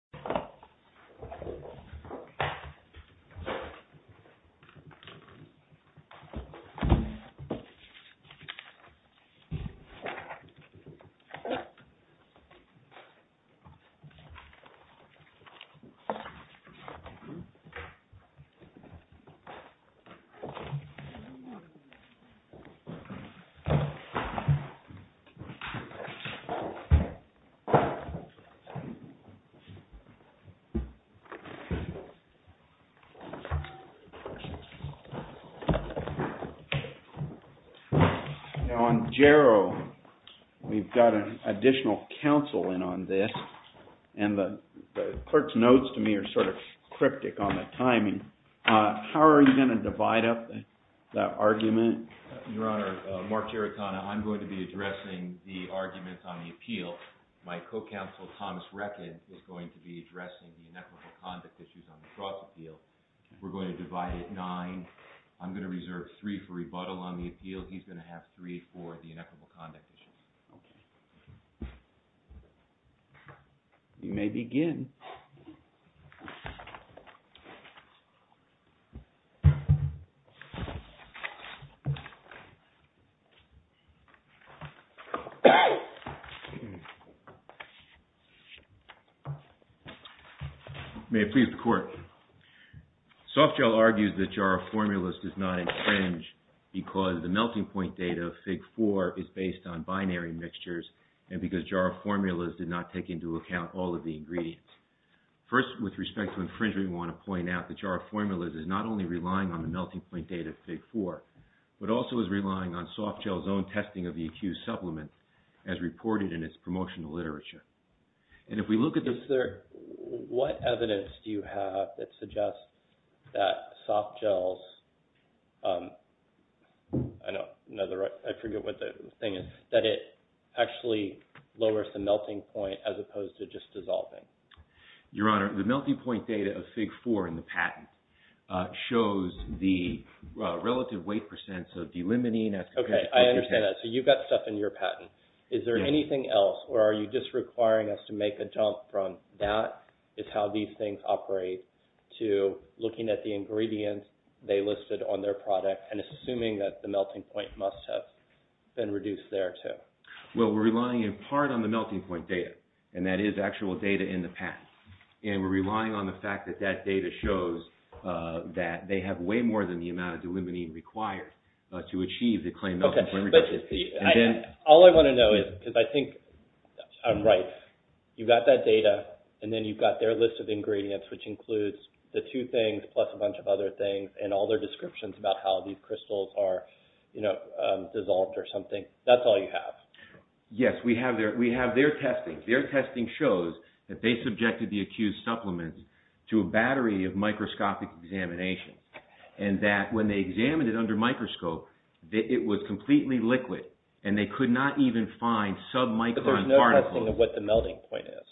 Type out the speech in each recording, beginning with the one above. Formulas, Inc. v. Now Health Group Formulas, Inc. v. Now Health Group Formulas, Inc. v. Now Health Group Formulas, Inc. Now on Jarrow we've got an additional counsel in on this and the clerk's notes to me are sort of cryptic on the timing. How are you going to divide up that argument? Your Honor, Mark Tarantona. I'm going to be addressing the argument on the appeal. My co-counsel Thomas Reckin is going to be addressing the inequitable conduct issues on the Frost Appeal. We're going to divide it 9. I'm going to reserve 3 for rebuttal on the appeal. He's going to have 3 for the inequitable conduct issues. Okay. You may begin. May it please the Court. Softgel argues that Jarrow Formulas does not infringe because the melting point data of Fig. 4 is based on binary mixtures and because Jarrow Formulas did not take into account all of the ingredients. First, with respect to infringement, we want to point out that Jarrow Formulas is not only relying on the melting point data of Fig. 4, but also is relying on Softgel's own testing of the accused supplement as reported in its promotional literature. And if we look at the... What evidence do you have that suggests that Softgel's... I forget what the thing is... that it actually lowers the melting point as opposed to just dissolving? Your Honor, the melting point data of Fig. 4 in the patent shows the relative weight of the delimitine. Okay. I understand that. So you've got stuff in your patent. Is there anything else or are you just requiring us to make a jump from that is how these things operate to looking at the ingredients they listed on their product and assuming that the melting point must have been reduced there too? Well, we're relying in part on the melting point data, and that is actual data in the patent. And we're relying on the fact that that data shows that they have way more than the amount of delimitine required to achieve the claimed melting point reduction. All I want to know is, because I think I'm right, you've got that data and then you've got their list of ingredients, which includes the two things plus a bunch of other things and all their descriptions about how these crystals are dissolved or something. That's all you have. Yes. We have their testing. Their testing shows that they subjected the accused supplement to a battery of microscopic examination, and that when they examined it under microscope, it was completely liquid, and they could not even find sub-micron particles. But there's no testing of what the melting point is.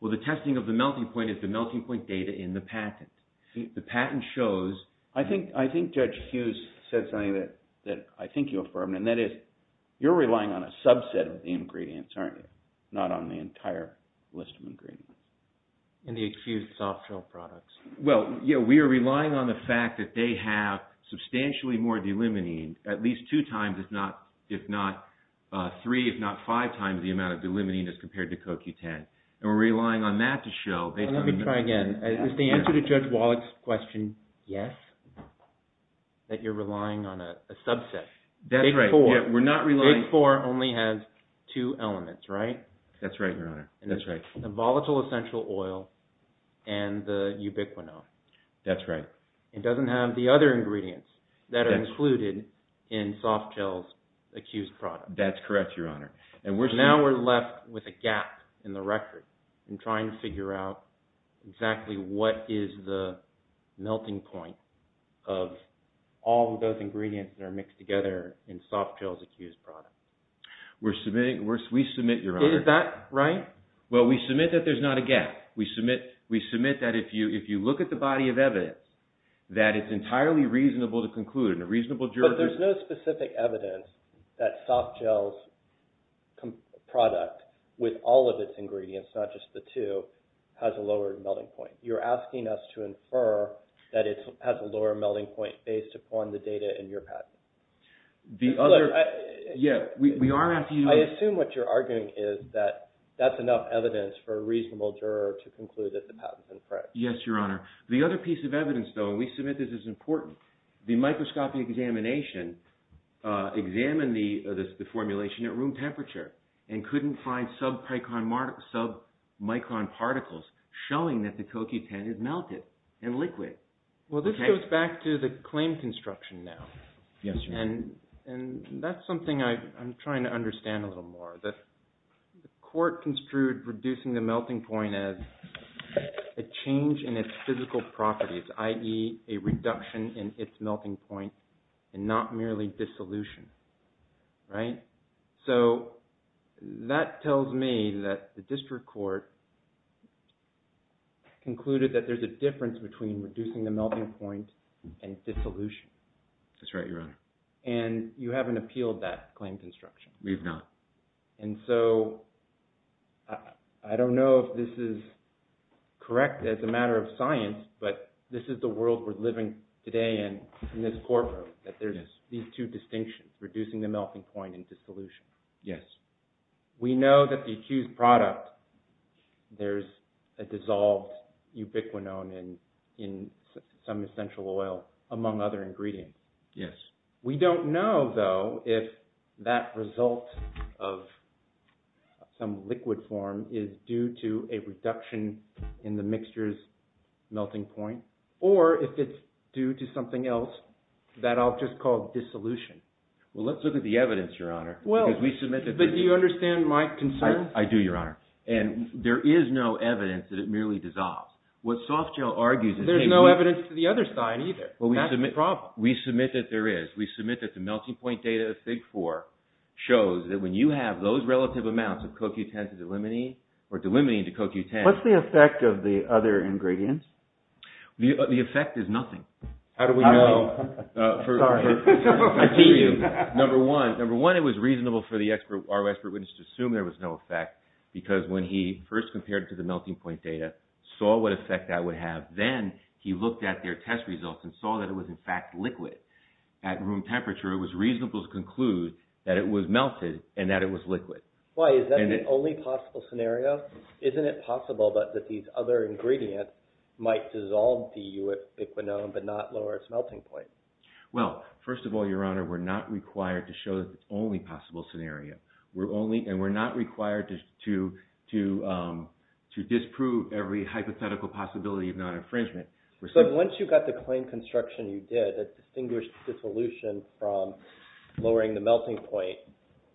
Well, the testing of the melting point is the melting point data in the patent. The patent shows... I think Judge Hughes said something that I think you affirmed, and that is you're relying on a subset of the ingredients, aren't you? Not on the entire list of ingredients. In the accused soft shell products. Well, we are relying on the fact that they have substantially more delimitine, at least two times, if not three, if not five times the amount of delimitine as compared to CoQ10. And we're relying on that to show... Let me try again. Is the answer to Judge Wallach's question yes? That you're relying on a subset? That's right. Big four. Big four only has two elements, right? That's right, Your Honor. The volatile essential oil and the ubiquinone. That's right. It doesn't have the other ingredients that are included in soft shells accused products. That's correct, Your Honor. Now we're left with a gap in the record in trying to figure out exactly what is the melting point of all of those ingredients that are mixed together in soft shells accused products. We submit, Your Honor... Is that right? Well, we submit that there's not a gap. We submit that if you look at the body of evidence, that it's entirely reasonable to conclude, and a reasonable juror... But there's no specific evidence that soft shells product with all of its ingredients, not just the two, has a lower melting point. You're asking us to infer that it has a lower melting point based upon the data in your patent. The other... Look, I... Yeah, we are asking you to... I assume what you're arguing is that that's enough evidence for a reasonable juror to conclude that the patent's incorrect. Yes, Your Honor. The other piece of evidence, though, and we submit this is important. The microscopy examination examined the formulation at room temperature and couldn't find submicron particles showing that the CoQ10 is melted and liquid. Well, this goes back to the claim construction now. Yes, Your Honor. And that's something I'm trying to understand a little more. The court construed reducing the melting point as a change in its physical properties, i.e. a reduction in its melting point and not merely dissolution, right? So that tells me that the district court concluded that there's a difference between reducing the melting point and dissolution. That's right, Your Honor. And you haven't appealed that claim construction. We've not. And so I don't know if this is correct as a matter of science, but this is the world we're living today in, in this courtroom, that there's these two distinctions, reducing the melting point and dissolution. Yes. We know that the accused product, there's a dissolved ubiquinone in some essential oil among other ingredients. Yes. We don't know, though, if that result of some liquid form is due to a reduction in the mixture's melting point, or if it's due to something else that I'll just call dissolution. Well, let's look at the evidence, Your Honor, because we submit that there is. But do you understand my concern? I do, Your Honor. And there is no evidence that it merely dissolves. What Softgel argues is that... There's no evidence to the other side either. That's the problem. We submit that there is. We submit that the melting point data, the FIG-4, shows that when you have those relative amounts of CoQ10 to delimiting, or delimiting to CoQ10... What's the effect of the other ingredients? The effect is nothing. How do we know? Sorry. I see you. Number one, it was reasonable for our expert witness to assume there was no effect, because when he first compared it to the melting point data, saw what effect that would have. Then, he looked at their test results and saw that it was, in fact, liquid. At room temperature, it was reasonable to conclude that it was melted and that it was liquid. Why? Is that the only possible scenario? Isn't it possible that these other ingredients might dissolve the u-fiquinone, but not lower its melting point? Well, first of all, Your Honor, we're not required to show that it's the only possible scenario. We're only, and we're not required to disprove every hypothetical possibility of non-infringement. So, once you got the claim construction you did that distinguished dissolution from lowering the melting point,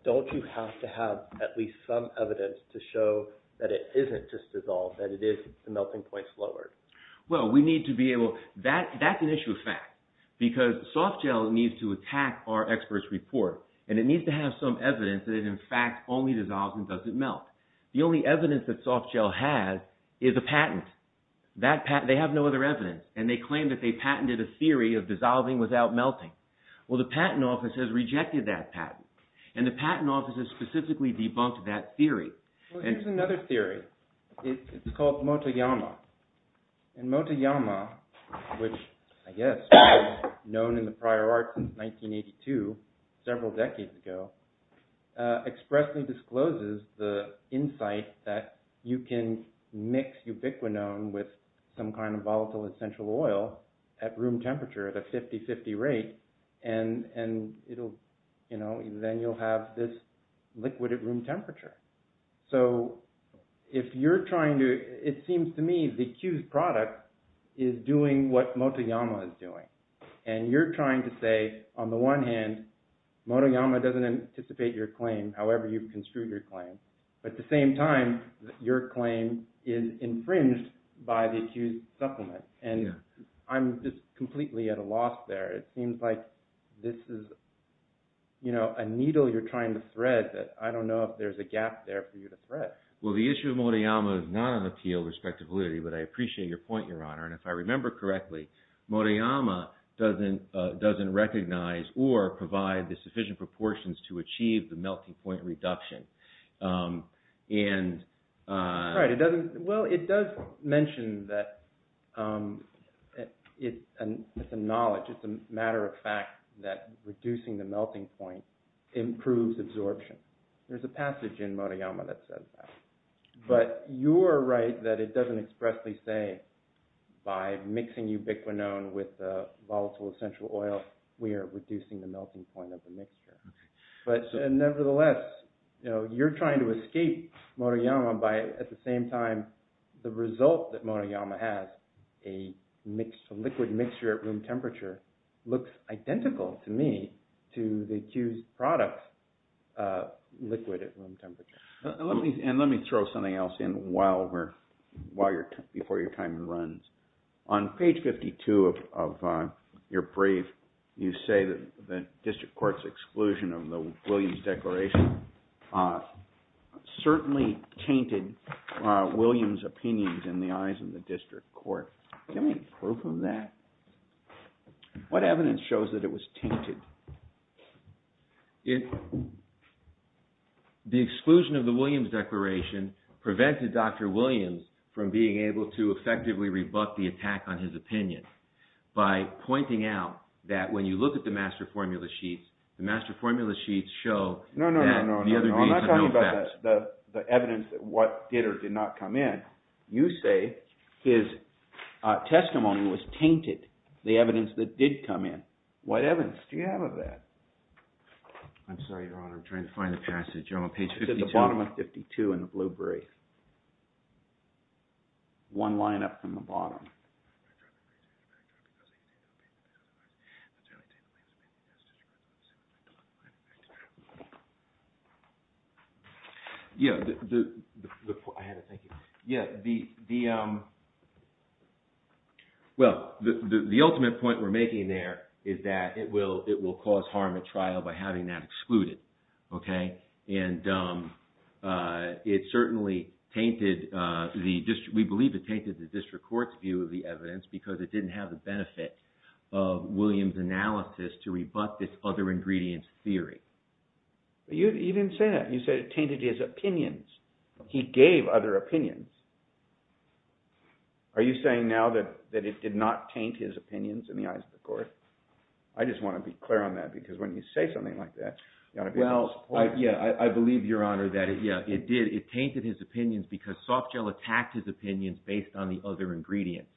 don't you have to have at least some evidence to show that it isn't just dissolved, that it is the melting point's lowered? Well, we need to be able... That's an issue of fact, because soft gel needs to attack our expert's report, and it only dissolves and doesn't melt. The only evidence that soft gel has is a patent. They have no other evidence, and they claim that they patented a theory of dissolving without melting. Well, the patent office has rejected that patent, and the patent office has specifically debunked that theory. Here's another theory. It's called Motoyama. And Motoyama, which, I guess, was known in the prior arts in 1982, several decades ago, expressly discloses the insight that you can mix ubiquitin with some kind of volatile essential oil at room temperature at a 50-50 rate, and then you'll have this liquid at room temperature. So, if you're trying to... It seems to me the Q's product is doing what Motoyama is doing. And you're trying to say, on the one hand, Motoyama doesn't anticipate your claim, however you've construed your claim, but at the same time, your claim is infringed by the Q's supplement. And I'm just completely at a loss there. It seems like this is a needle you're trying to thread that I don't know if there's a gap there for you to thread. Well, the issue of Motoyama is not an appeal with respect to validity, but I appreciate your point, Your Honor. And if I remember correctly, Motoyama doesn't recognize or provide the sufficient proportions to achieve the melting point reduction. Right, it doesn't... Well, it does mention that it's a knowledge, it's a matter of fact that reducing the melting point improves absorption. There's a passage in Motoyama that says that. But you're right that it doesn't expressly say, by mixing ubiquinone with volatile essential oil, we are reducing the melting point of the mixture. But nevertheless, you're trying to escape Motoyama by, at the same time, the result that Motoyama has, a liquid mixture at room temperature, looks identical to me to the Q's product liquid at room temperature. And let me throw something else in before your time runs. On page 52 of your brief, you say that the district court's exclusion of the Williams declaration certainly tainted Williams' opinions in the eyes of the district court. Do you have any proof of that? What evidence shows that it was tainted? The exclusion of the Williams declaration prevented Dr. Williams from being able to effectively rebut the attack on his opinion by pointing out that when you look at the master formula sheets, the master formula sheets show that the other... No, no, no, I'm not talking about the evidence that what did or did not come in. You say his testimony was tainted, the evidence that did come in. What evidence do you have of that? I'm sorry, Your Honor, I'm trying to find the passage. I'm on page 52. It's at the bottom of 52 in the blue brief. One line up from the bottom. Yeah, the ultimate point we're making there is that it will cause harm at trial by having that excluded, okay? And it certainly tainted, we believe it tainted the district court's view of the evidence because it didn't have the benefit of Williams' analysis to rebut this other ingredient theory. You didn't say that. You said it tainted his opinions. He gave other opinions. Are you saying now that it did not taint his opinions in the eyes of the court? I just want to be clear on that because when you say something like that... Well, yeah, I believe, Your Honor, that it did. It tainted his opinions because Softgel attacked his opinions based on the other ingredients.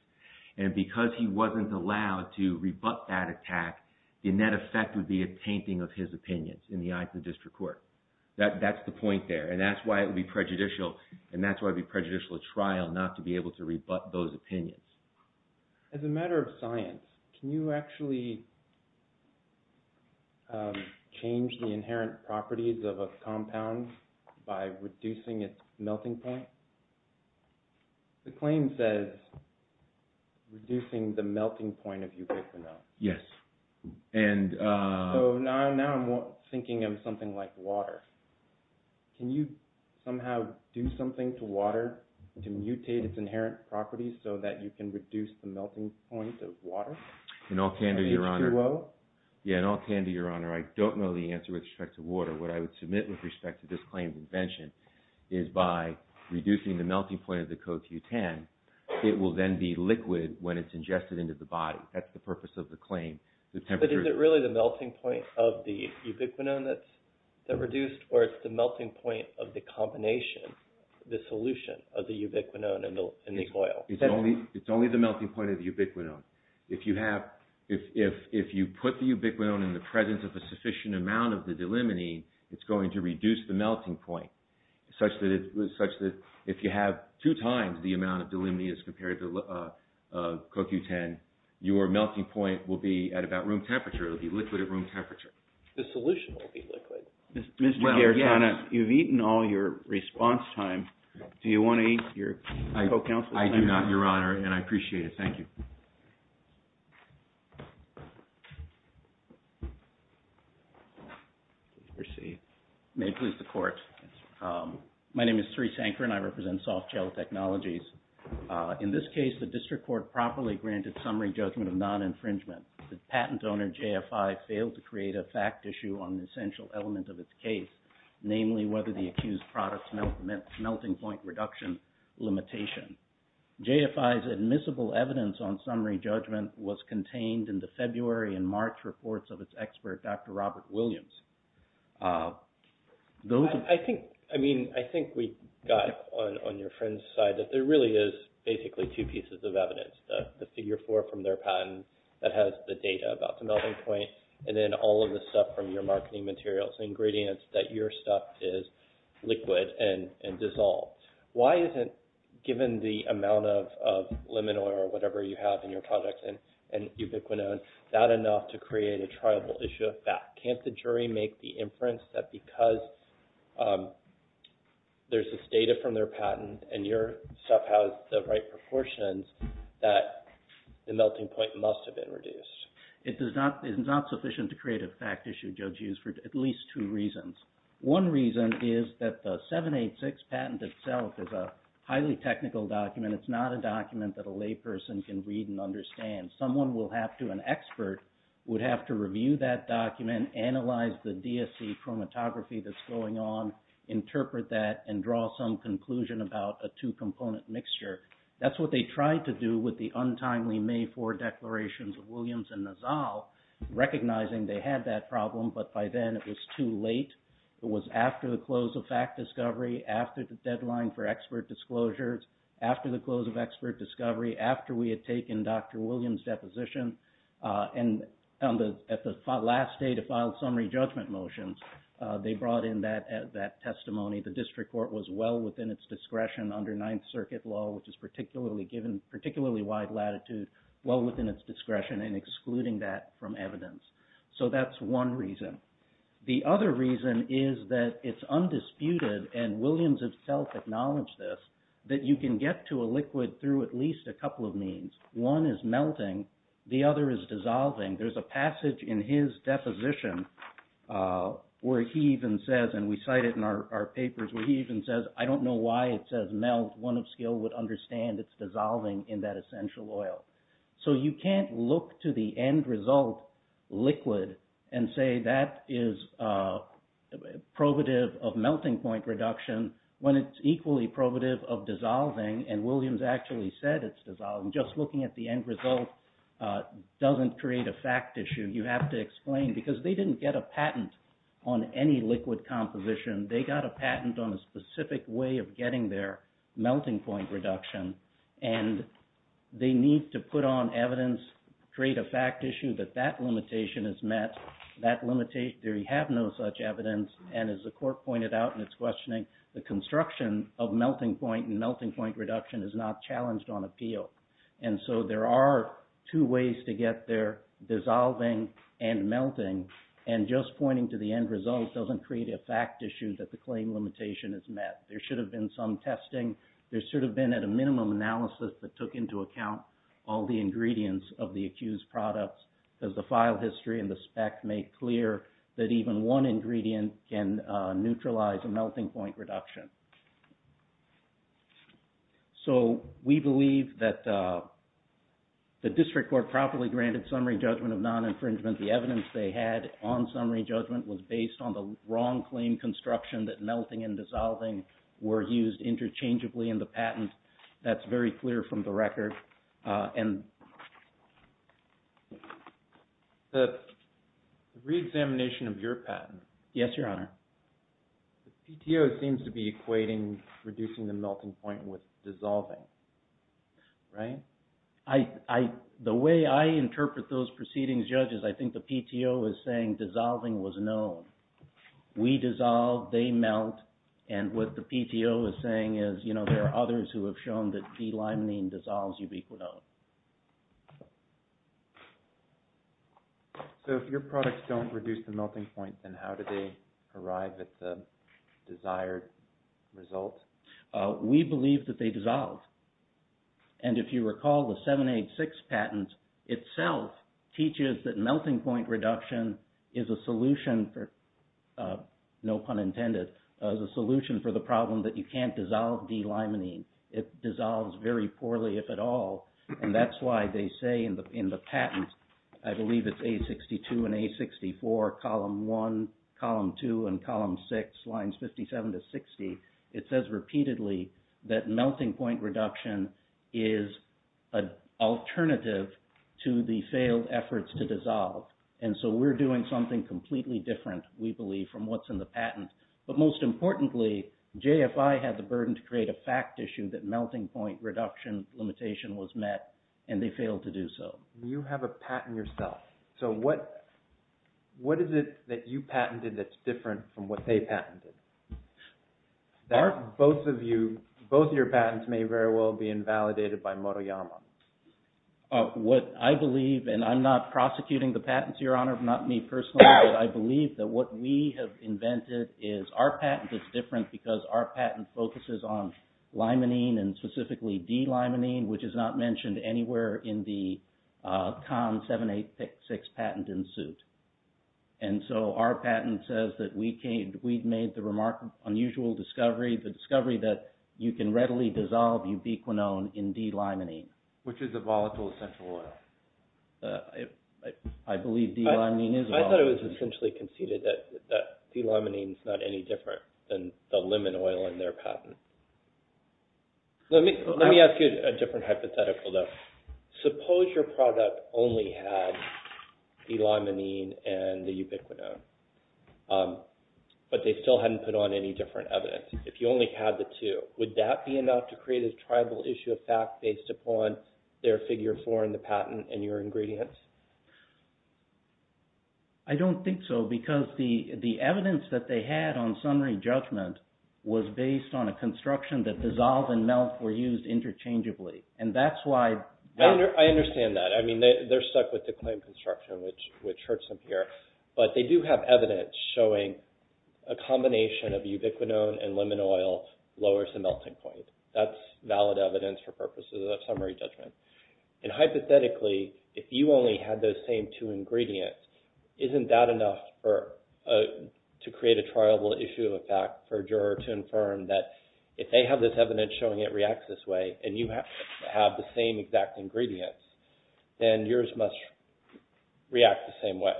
And because he wasn't allowed to rebut that attack, the net effect would be a tainting of his opinions in the eyes of the district court. That's the point there. And that's why it would be prejudicial. And that's why it would be prejudicial at trial not to be able to rebut those opinions. As a matter of science, can you actually change the inherent properties of a compound by reducing its melting point? The claim says reducing the melting point of ubiquitin O. Yes. So now I'm thinking of something like water. Can you somehow do something to water to mutate its inherent properties so that you can reduce the melting point of water? In all candor, Your Honor, I don't know the answer with respect to water. What I would submit with respect to this claim's invention is by reducing the melting point of the CoQ10, it will then be liquid when it's ingested into the body. That's the purpose of the claim. But is it really the melting point of the ubiquitin that's reduced or it's the melting point of the combination, the solution of the ubiquitin and the oil? It's only the melting point of the ubiquitin. If you put the ubiquitin in the presence of a sufficient amount of the delimitin, it's going to reduce the melting point, such that if you have two times the amount of delimitin as compared to CoQ10, your melting point will be at about room temperature. It will be liquid at room temperature. The solution will be liquid. Mr. Garitano, you've eaten all your response time. Do you want to eat your co-counsel's time? I do not, Your Honor, and I appreciate it. Thank you. May it please the Court. My name is Therese Anker and I represent Softgel Technologies. In this case, the district court properly granted summary judgment of non-infringement. The patent owner, JFI, failed to create a fact issue on an essential element of its case, namely whether the accused product's melting point reduction limitation. JFI's admissible evidence on summary judgment was contained in the February and March reports of its expert, Dr. Robert Williams. I think we got it on your friend's side, that there really is basically two pieces of evidence, the figure four from their patent that has the data about the melting point, and then all of the stuff from your marketing materials, ingredients that your stuff is liquid and dissolved. Why isn't, given the amount of lemon oil or whatever you have in your products and ubiquitin, that enough to create a triable issue of fact? Can't the jury make the inference that because there's this data from their patent and your stuff has the right proportions that the melting point must have been reduced? It is not sufficient to create a fact issue, Judge Hughes, for at least two reasons. One reason is that the 786 patent itself is a highly technical document. It's not a document that a layperson can read and understand. Someone will have to, an expert, would have to review that document, analyze the DSC chromatography that's going on, interpret that, and draw some conclusion about a two-component mixture. That's what they tried to do with the untimely May 4 declarations of Williams and Nazal, recognizing they had that problem, but by then it was too late. It was after the close of fact discovery, after the deadline for expert disclosures, after the close of expert discovery, after we had taken Dr. Williams' deposition, and at the last day to file summary judgment motions, they brought in that testimony. The district court was well within its discretion under Ninth Circuit law, which is particularly wide latitude, well within its discretion in excluding that from evidence. So that's one reason. The other reason is that it's undisputed, and Williams himself acknowledged this, that you can get to a liquid through at least a couple of means. One is melting, the other is dissolving. There's a passage in his deposition where he even says, and we cite it in our papers, where he even says, I don't know why it says melt. One of skill would understand it's dissolving in that essential oil. So you can't look to the end result liquid and say that is probative of melting point reduction when it's equally probative of dissolving, and Williams actually said it's dissolving. Just looking at the end result doesn't create a fact issue. You have to explain, because they didn't get a patent on any liquid composition. They got a patent on a specific way of getting their melting point reduction, and they need to put on evidence, create a fact issue that that limitation is met. They have no such evidence, and as the court pointed out in its questioning, the construction of melting point and melting point reduction is not challenged on appeal. So there are two ways to get there, dissolving and melting, and just pointing to the end result doesn't create a fact issue that the claim limitation is met. There should have been some testing. There should have been at a minimum analysis that took into account all the ingredients of the accused products as the file history and the spec make clear that even one ingredient can neutralize a melting point reduction. So we believe that the district court properly granted summary judgment of non-infringement. The evidence they had on summary judgment was based on the wrong claim construction that melting and dissolving were used interchangeably in the patent. That's very clear from the record. The re-examination of your patent... Yes, Your Honor. The PTO seems to be equating reducing the melting point with dissolving, right? The way I interpret those proceedings, judges, I think the PTO is saying dissolving was known. We dissolve, they melt, and what the PTO is saying is there are others who have shown that D-limonene dissolves ubiquitone. So if your products don't reduce the melting point, then how do they arrive at the desired result? We believe that they dissolve. And if you recall, the 786 patent itself teaches that melting point reduction is a solution for, no pun intended, is a solution for the problem that you can't dissolve D-limonene. It dissolves very poorly, if at all. And that's why they say in the patent, I believe it's A62 and A64, column 1, column 2, and column 6, lines 57 to 60, it says repeatedly that melting point reduction is an alternative to the failed efforts to dissolve. And so we're doing something completely different, we believe, from what's in the patent. But most importantly, JFI had the burden to create a fact issue that melting point reduction limitation was met, and they failed to do so. You have a patent yourself. So what is it that you patented that's different from what they patented? Both of you, both of your patents may very well be invalidated by Motoyama. What I believe, and I'm not prosecuting the patents, Your Honor, not me personally, but I believe that what we have invented is our patent is different because our patent focuses on limonene, and specifically D-limonene, which is not mentioned anywhere in the CON 786 patent in suit. And so our patent says that we've made the remarkable, unusual discovery, the discovery that you can readily dissolve ubiquinone in D-limonene. Which is a volatile essential oil. I believe D-limonene is a volatile essential oil. I thought it was essentially conceded that D-limonene is not any different than the lemon oil in their patent. Let me ask you a different hypothetical though. Suppose your product only had D-limonene and the ubiquinone. But they still hadn't put on any different evidence. If you only had the two, would that be enough to create a tribal issue of fact based upon their Figure 4 in the patent and your ingredients? I don't think so because the evidence that they had on summary judgment was based on a construction that dissolve and melt were used interchangeably. And that's why I understand that. I mean, they're stuck with the claim construction which hurts them here. But they do have evidence showing a combination of ubiquinone and lemon oil lowers the melting point. That's valid evidence for purposes of summary judgment. And hypothetically, if you only had those same two ingredients, isn't that enough for to create a tribal issue of fact for a juror to infirm that if they have this evidence showing it reacts this way and you have the same exact ingredients then yours must react the same way.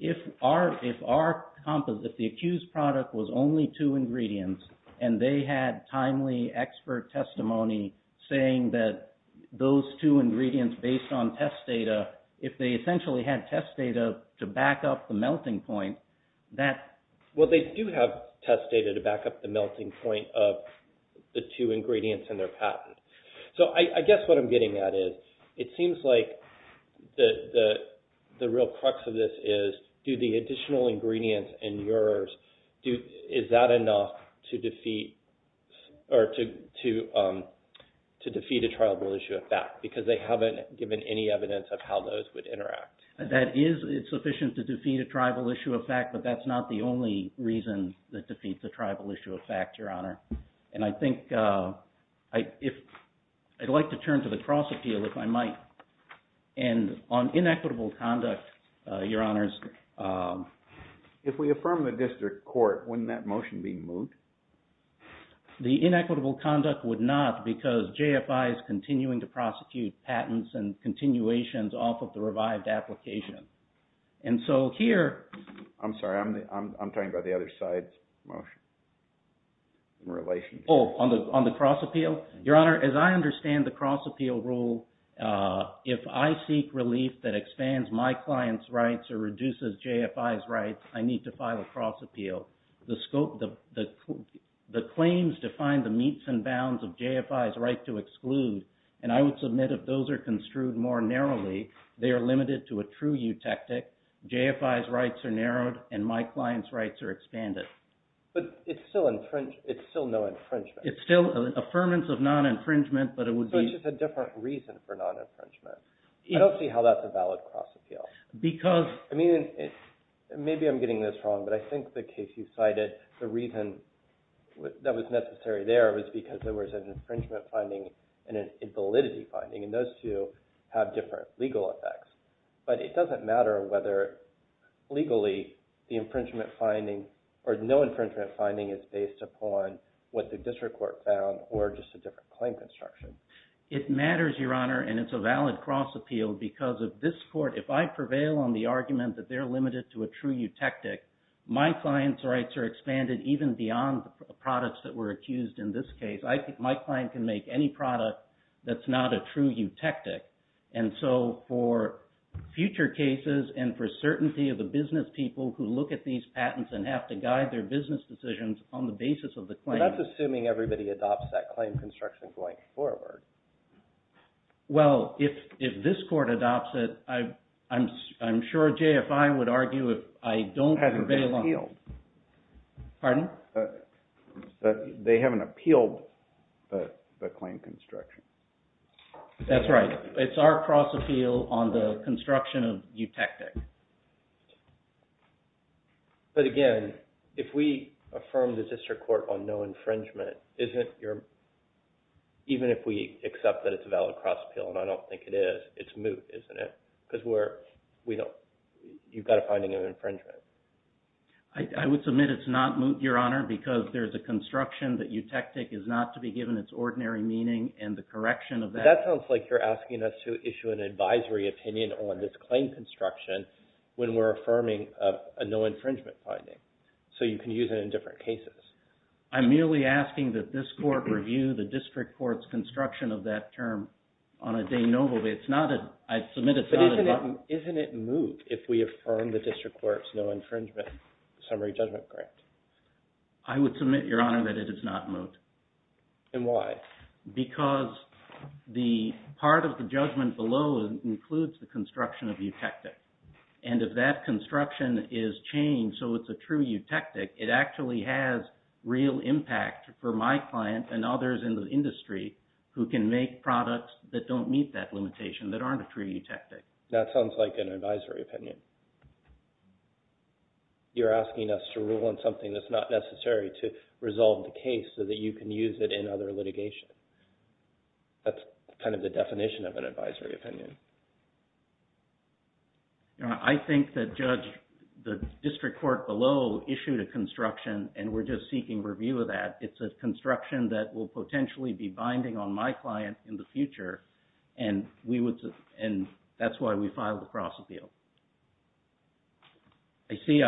If our composite if the accused product was only two ingredients and they had timely expert testimony saying that those two ingredients based on test data, if they essentially had test data to back up the melting point, that Well, they do have test data to back up the melting point of the two ingredients in their patent. So I guess what I'm getting at is it seems like the real crux of this is, do the additional ingredients in yours is that enough to defeat or to defeat a tribal issue of fact? Because they haven't given any evidence of how those would interact. It's sufficient to defeat a tribal issue of fact, but that's not the only reason that defeats a tribal issue of fact, Your Honor. And I think I'd like to turn to the cross appeal if I might. And on inequitable conduct, Your Honors If we affirm the district court, wouldn't that motion be moved? The inequitable conduct would not because JFI is continuing to prosecute patents and continuations off of the revived application. And so here I'm sorry, I'm talking about the other side's motion. Oh, on the cross appeal? Your Honor, as I understand the cross appeal rule if I seek relief that expands my client's rights or reduces JFI's rights I need to file a cross appeal. The claims define the meets and bounds of JFI's right to exclude. And I would submit if those are construed more narrowly, they are limited to a true eutectic. JFI's rights are narrowed and my client's rights are expanded. But it's still no infringement. It's still an affirmance of non-infringement. But it's just a different reason for non-infringement. I don't see how that's a valid cross appeal. Maybe I'm getting this wrong, but I think the case you cited the reason that was necessary there was because there was an infringement finding and a validity finding. And those two have different legal effects. But it doesn't matter whether legally the infringement finding or no infringement finding is based upon what the district court found or just a different claim construction. It matters, Your Honor, and it's a valid cross appeal because of this court, if I prevail on the argument that they're limited to a true eutectic, my client's rights are expanded even beyond the products that were accused in this case. My client can make any product that's not a future cases and for certainty of the business people who look at these patents and have to guide their business decisions on the basis of the claim. That's assuming everybody adopts that claim construction going forward. Well, if this court adopts it, I'm sure JFI would argue if I don't prevail on it. They haven't appealed the claim construction. That's right. It's our cross appeal on the construction of eutectic. But again, if we affirm the district court on no infringement, even if we accept that it's a valid cross appeal, and I don't think it is, it's moot, isn't it? You've got a finding of infringement. I would submit it's not moot, Your Honor, because there's a construction that eutectic is not to be given its ordinary meaning and the correction of that. That sounds like you're asking us to issue an advisory opinion on this claim construction when we're affirming a no infringement finding. So you can use it in different cases. I'm merely asking that this court review the district court's construction of that term on a de novo. I'd submit it's not a moot. Isn't it moot if we affirm the district court's no infringement summary judgment grant? I would submit, Your Honor, that it is not moot. And why? Because the part of the judgment below includes the construction of eutectic. And if that construction is changed so it's a true eutectic, it actually has real impact for my client and others in the industry who can make products that don't meet that limitation, that aren't a true eutectic. That sounds like an advisory opinion. You're asking us to rule on something that's not necessary to resolve the case so that you can use it in other litigation. That's kind of the definition of an advisory opinion. I think that Judge the district court below issued a construction and we're just seeking review of that. It's a construction that will potentially be binding on my client in the future and that's why we filed the cross appeal. I see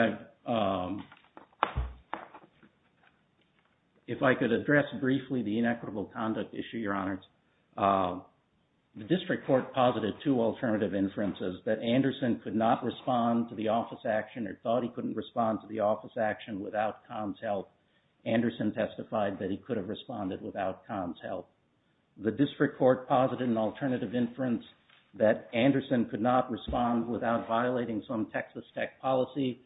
if I could address briefly the inequitable conduct issue, Your Honors. The district court posited two alternative inferences that Anderson could not respond to the office action or thought he couldn't respond to the office action without Kahn's help. Anderson testified that he could have responded without Kahn's help. The district court posited an alternative inference that Anderson could not respond without violating some Texas tech policy.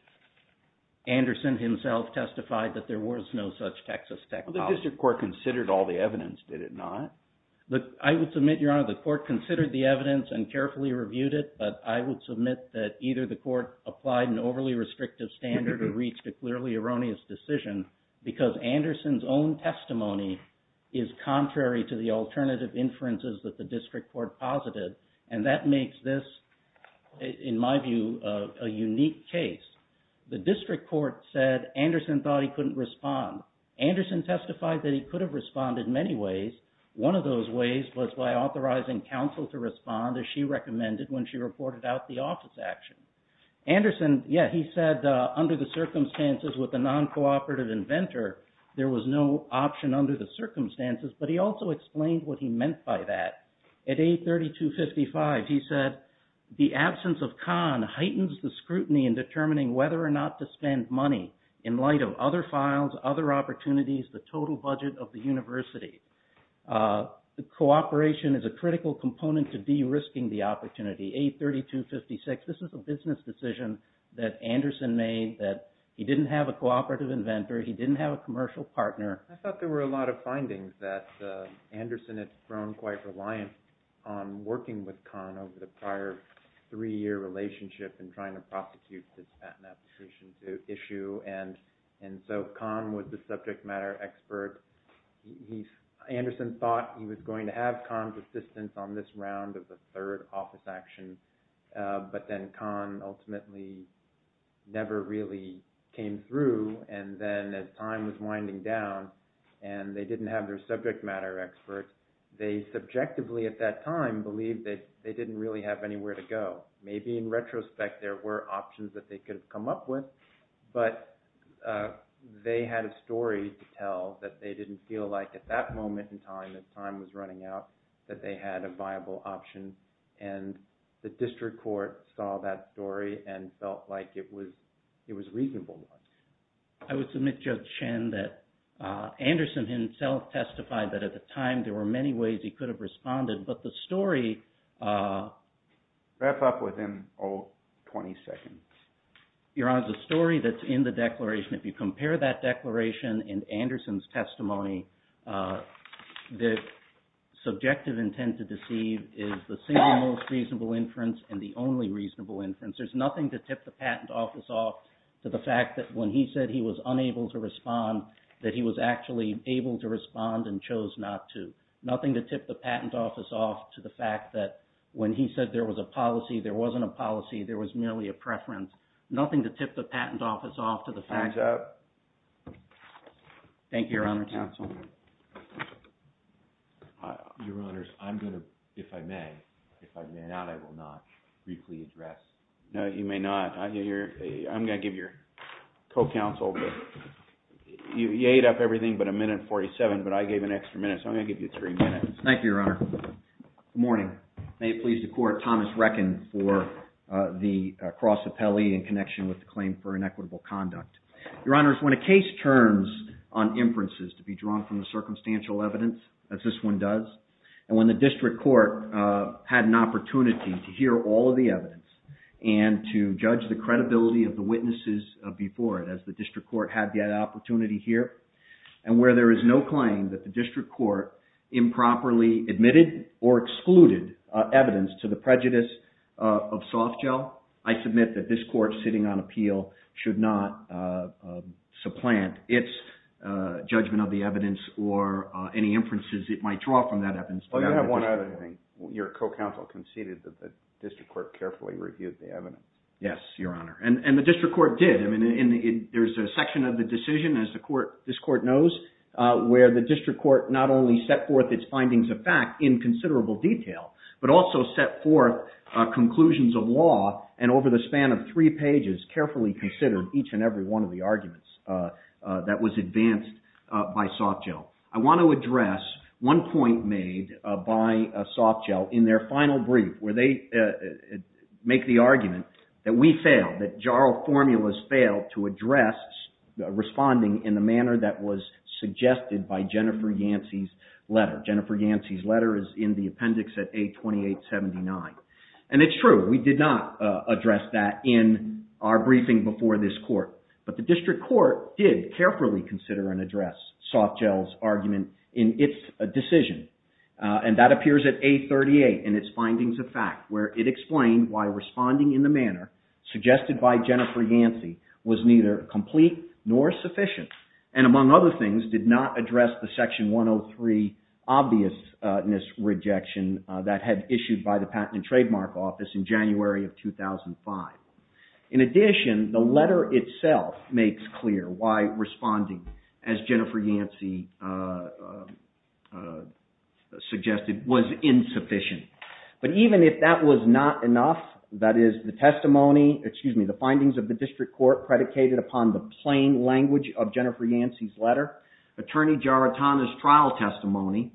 Anderson himself testified that there was no such Texas tech policy. The district court considered all the evidence, did it not? I would submit, Your Honor, the court considered the evidence and carefully reviewed it but I would submit that either the court applied an overly restrictive standard or reached a clearly erroneous decision because Anderson's own testimony is contrary to the alternative inferences that the district court posited and that makes this, in my view, a unique case. The district court said Anderson thought he couldn't respond. Anderson testified that he could have responded in many ways. One of those ways was by authorizing counsel to respond as she recommended when she reported out the office action. Anderson, yeah, he said under the circumstances with a non-cooperative inventor there was no option under the circumstances but he also explained what he meant by that. At A3255 he said, the absence of Kahn heightens the scrutiny in determining whether or not to spend money in light of other files, other opportunities, the total budget of the university. Cooperation is a critical component to de-risking the opportunity. The A3256, this is a business decision that Anderson made that he didn't have a cooperative inventor, he didn't have a commercial partner. I thought there were a lot of findings that Anderson had grown quite reliant on working with Kahn over the prior three year relationship in trying to prosecute the patent application issue and so Kahn was the subject matter expert. Anderson thought he was going to have Kahn's third office action but then Kahn ultimately never really came through and then as time was winding down and they didn't have their subject matter experts they subjectively at that time believed that they didn't really have anywhere to go. Maybe in retrospect there were options that they could have come up with but they had a story to tell that they didn't feel like at that moment in time when the time was running out that they had a viable option and the district court saw that story and felt like it was reasonable. I would submit Judge Chen that Anderson himself testified that at the time there were many ways he could have responded but the story Wrap up within 20 seconds. Your Honor, the story that's in the declaration if you compare that declaration and Anderson's testimony the subjective intent to deceive is the single most reasonable inference and the only reasonable inference. There's nothing to tip the patent office off to the fact that when he said he was unable to respond that he was actually able to respond and chose not to. Nothing to tip the patent office off to the fact that when he said there was a policy, there wasn't a policy there was merely a preference. Time's up. Thank you, Your Honor. Your Honor, I'm going to, if I may if I may not, I will not briefly address No, you may not. I'm going to give your co-counsel you ate up everything but a minute and 47 but I gave an extra minute so I'm going to give you three minutes. Thank you, Your Honor. Good morning. May it please the court Thomas Reckin for the cross appellee in connection with the claim for inequitable conduct. Your Honor, when a case turns on inferences to be drawn from the circumstantial evidence as this one does and when the district court had an opportunity to hear all of the evidence and to judge the credibility of the witnesses before it as the district court had the opportunity here and where there is no claim that the district court improperly admitted or excluded evidence to the prejudice of soft gel, I submit that this court sitting on appeal should not supplant its judgment of the evidence or any inferences it might draw from that evidence. Your co-counsel conceded that the district court carefully reviewed the evidence. Yes, Your Honor. And the district court did. There's a section of the decision as this court knows where the district court not only set forth its findings of fact in considerable detail but also set forth conclusions of law and over the span of three pages carefully considered each and every one of the arguments that was advanced by soft gel. I want to address one point made by soft gel in their final brief where they make the argument that we failed, that JARL formulas failed to address responding in the manner that was suggested by Jennifer Yancey's letter. Jennifer Yancey's letter is in the appendix at A2879. And it's true, we did not address that in our briefing before this court. But the district court did carefully consider and address soft gel's argument in its decision. And that appears at A38 in its findings of fact where it explained why was neither complete nor sufficient. And among other things, did not address the Section 103 obviousness rejection that had issued by the Patent and Trademark Office in January of 2005. In addition, the letter itself makes clear why responding as Jennifer Yancey suggested was insufficient. But even if that was not enough, that is the testimony, excuse me, the findings of the district court predicated upon the plain language of Jennifer Yancey's letter. Attorney Giarratana's trial testimony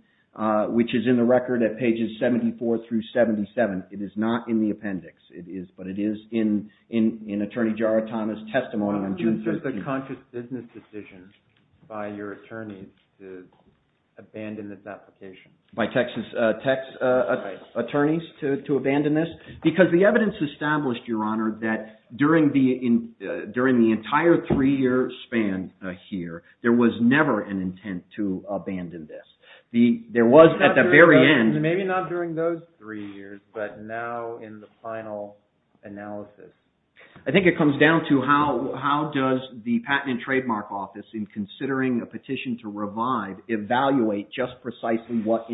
which is in the record at pages 74 through 77. It is not in the appendix. But it is in Attorney Giarratana's testimony on June 13th. Why would you insist a conscious business decision by your attorneys to abandon this application? By Texas attorneys to abandon this? Because the evidence established, Your Honor, that during the entire three year span here, there was never an intent to abandon this. Maybe not during those three years, but now in the final analysis. I think it comes down to how does the Patent and Trademark Office, in considering a petition to revive, evaluate just precisely what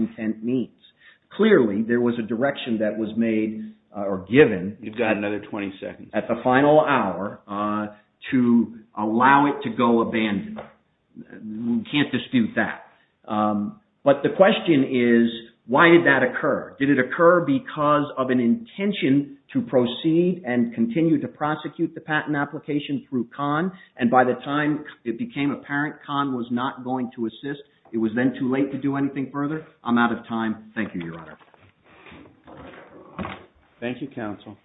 direction that was made or given at the final hour to allow it to go abandoned. We can't dispute that. But the question is, why did that occur? Did it occur because of an intention to proceed and continue to prosecute the patent application through Kahn? And by the time it became apparent Kahn was not going to assist, it was then too late to do anything further. I'm out of time. Thank you, Your Honor. Thank you, counsel.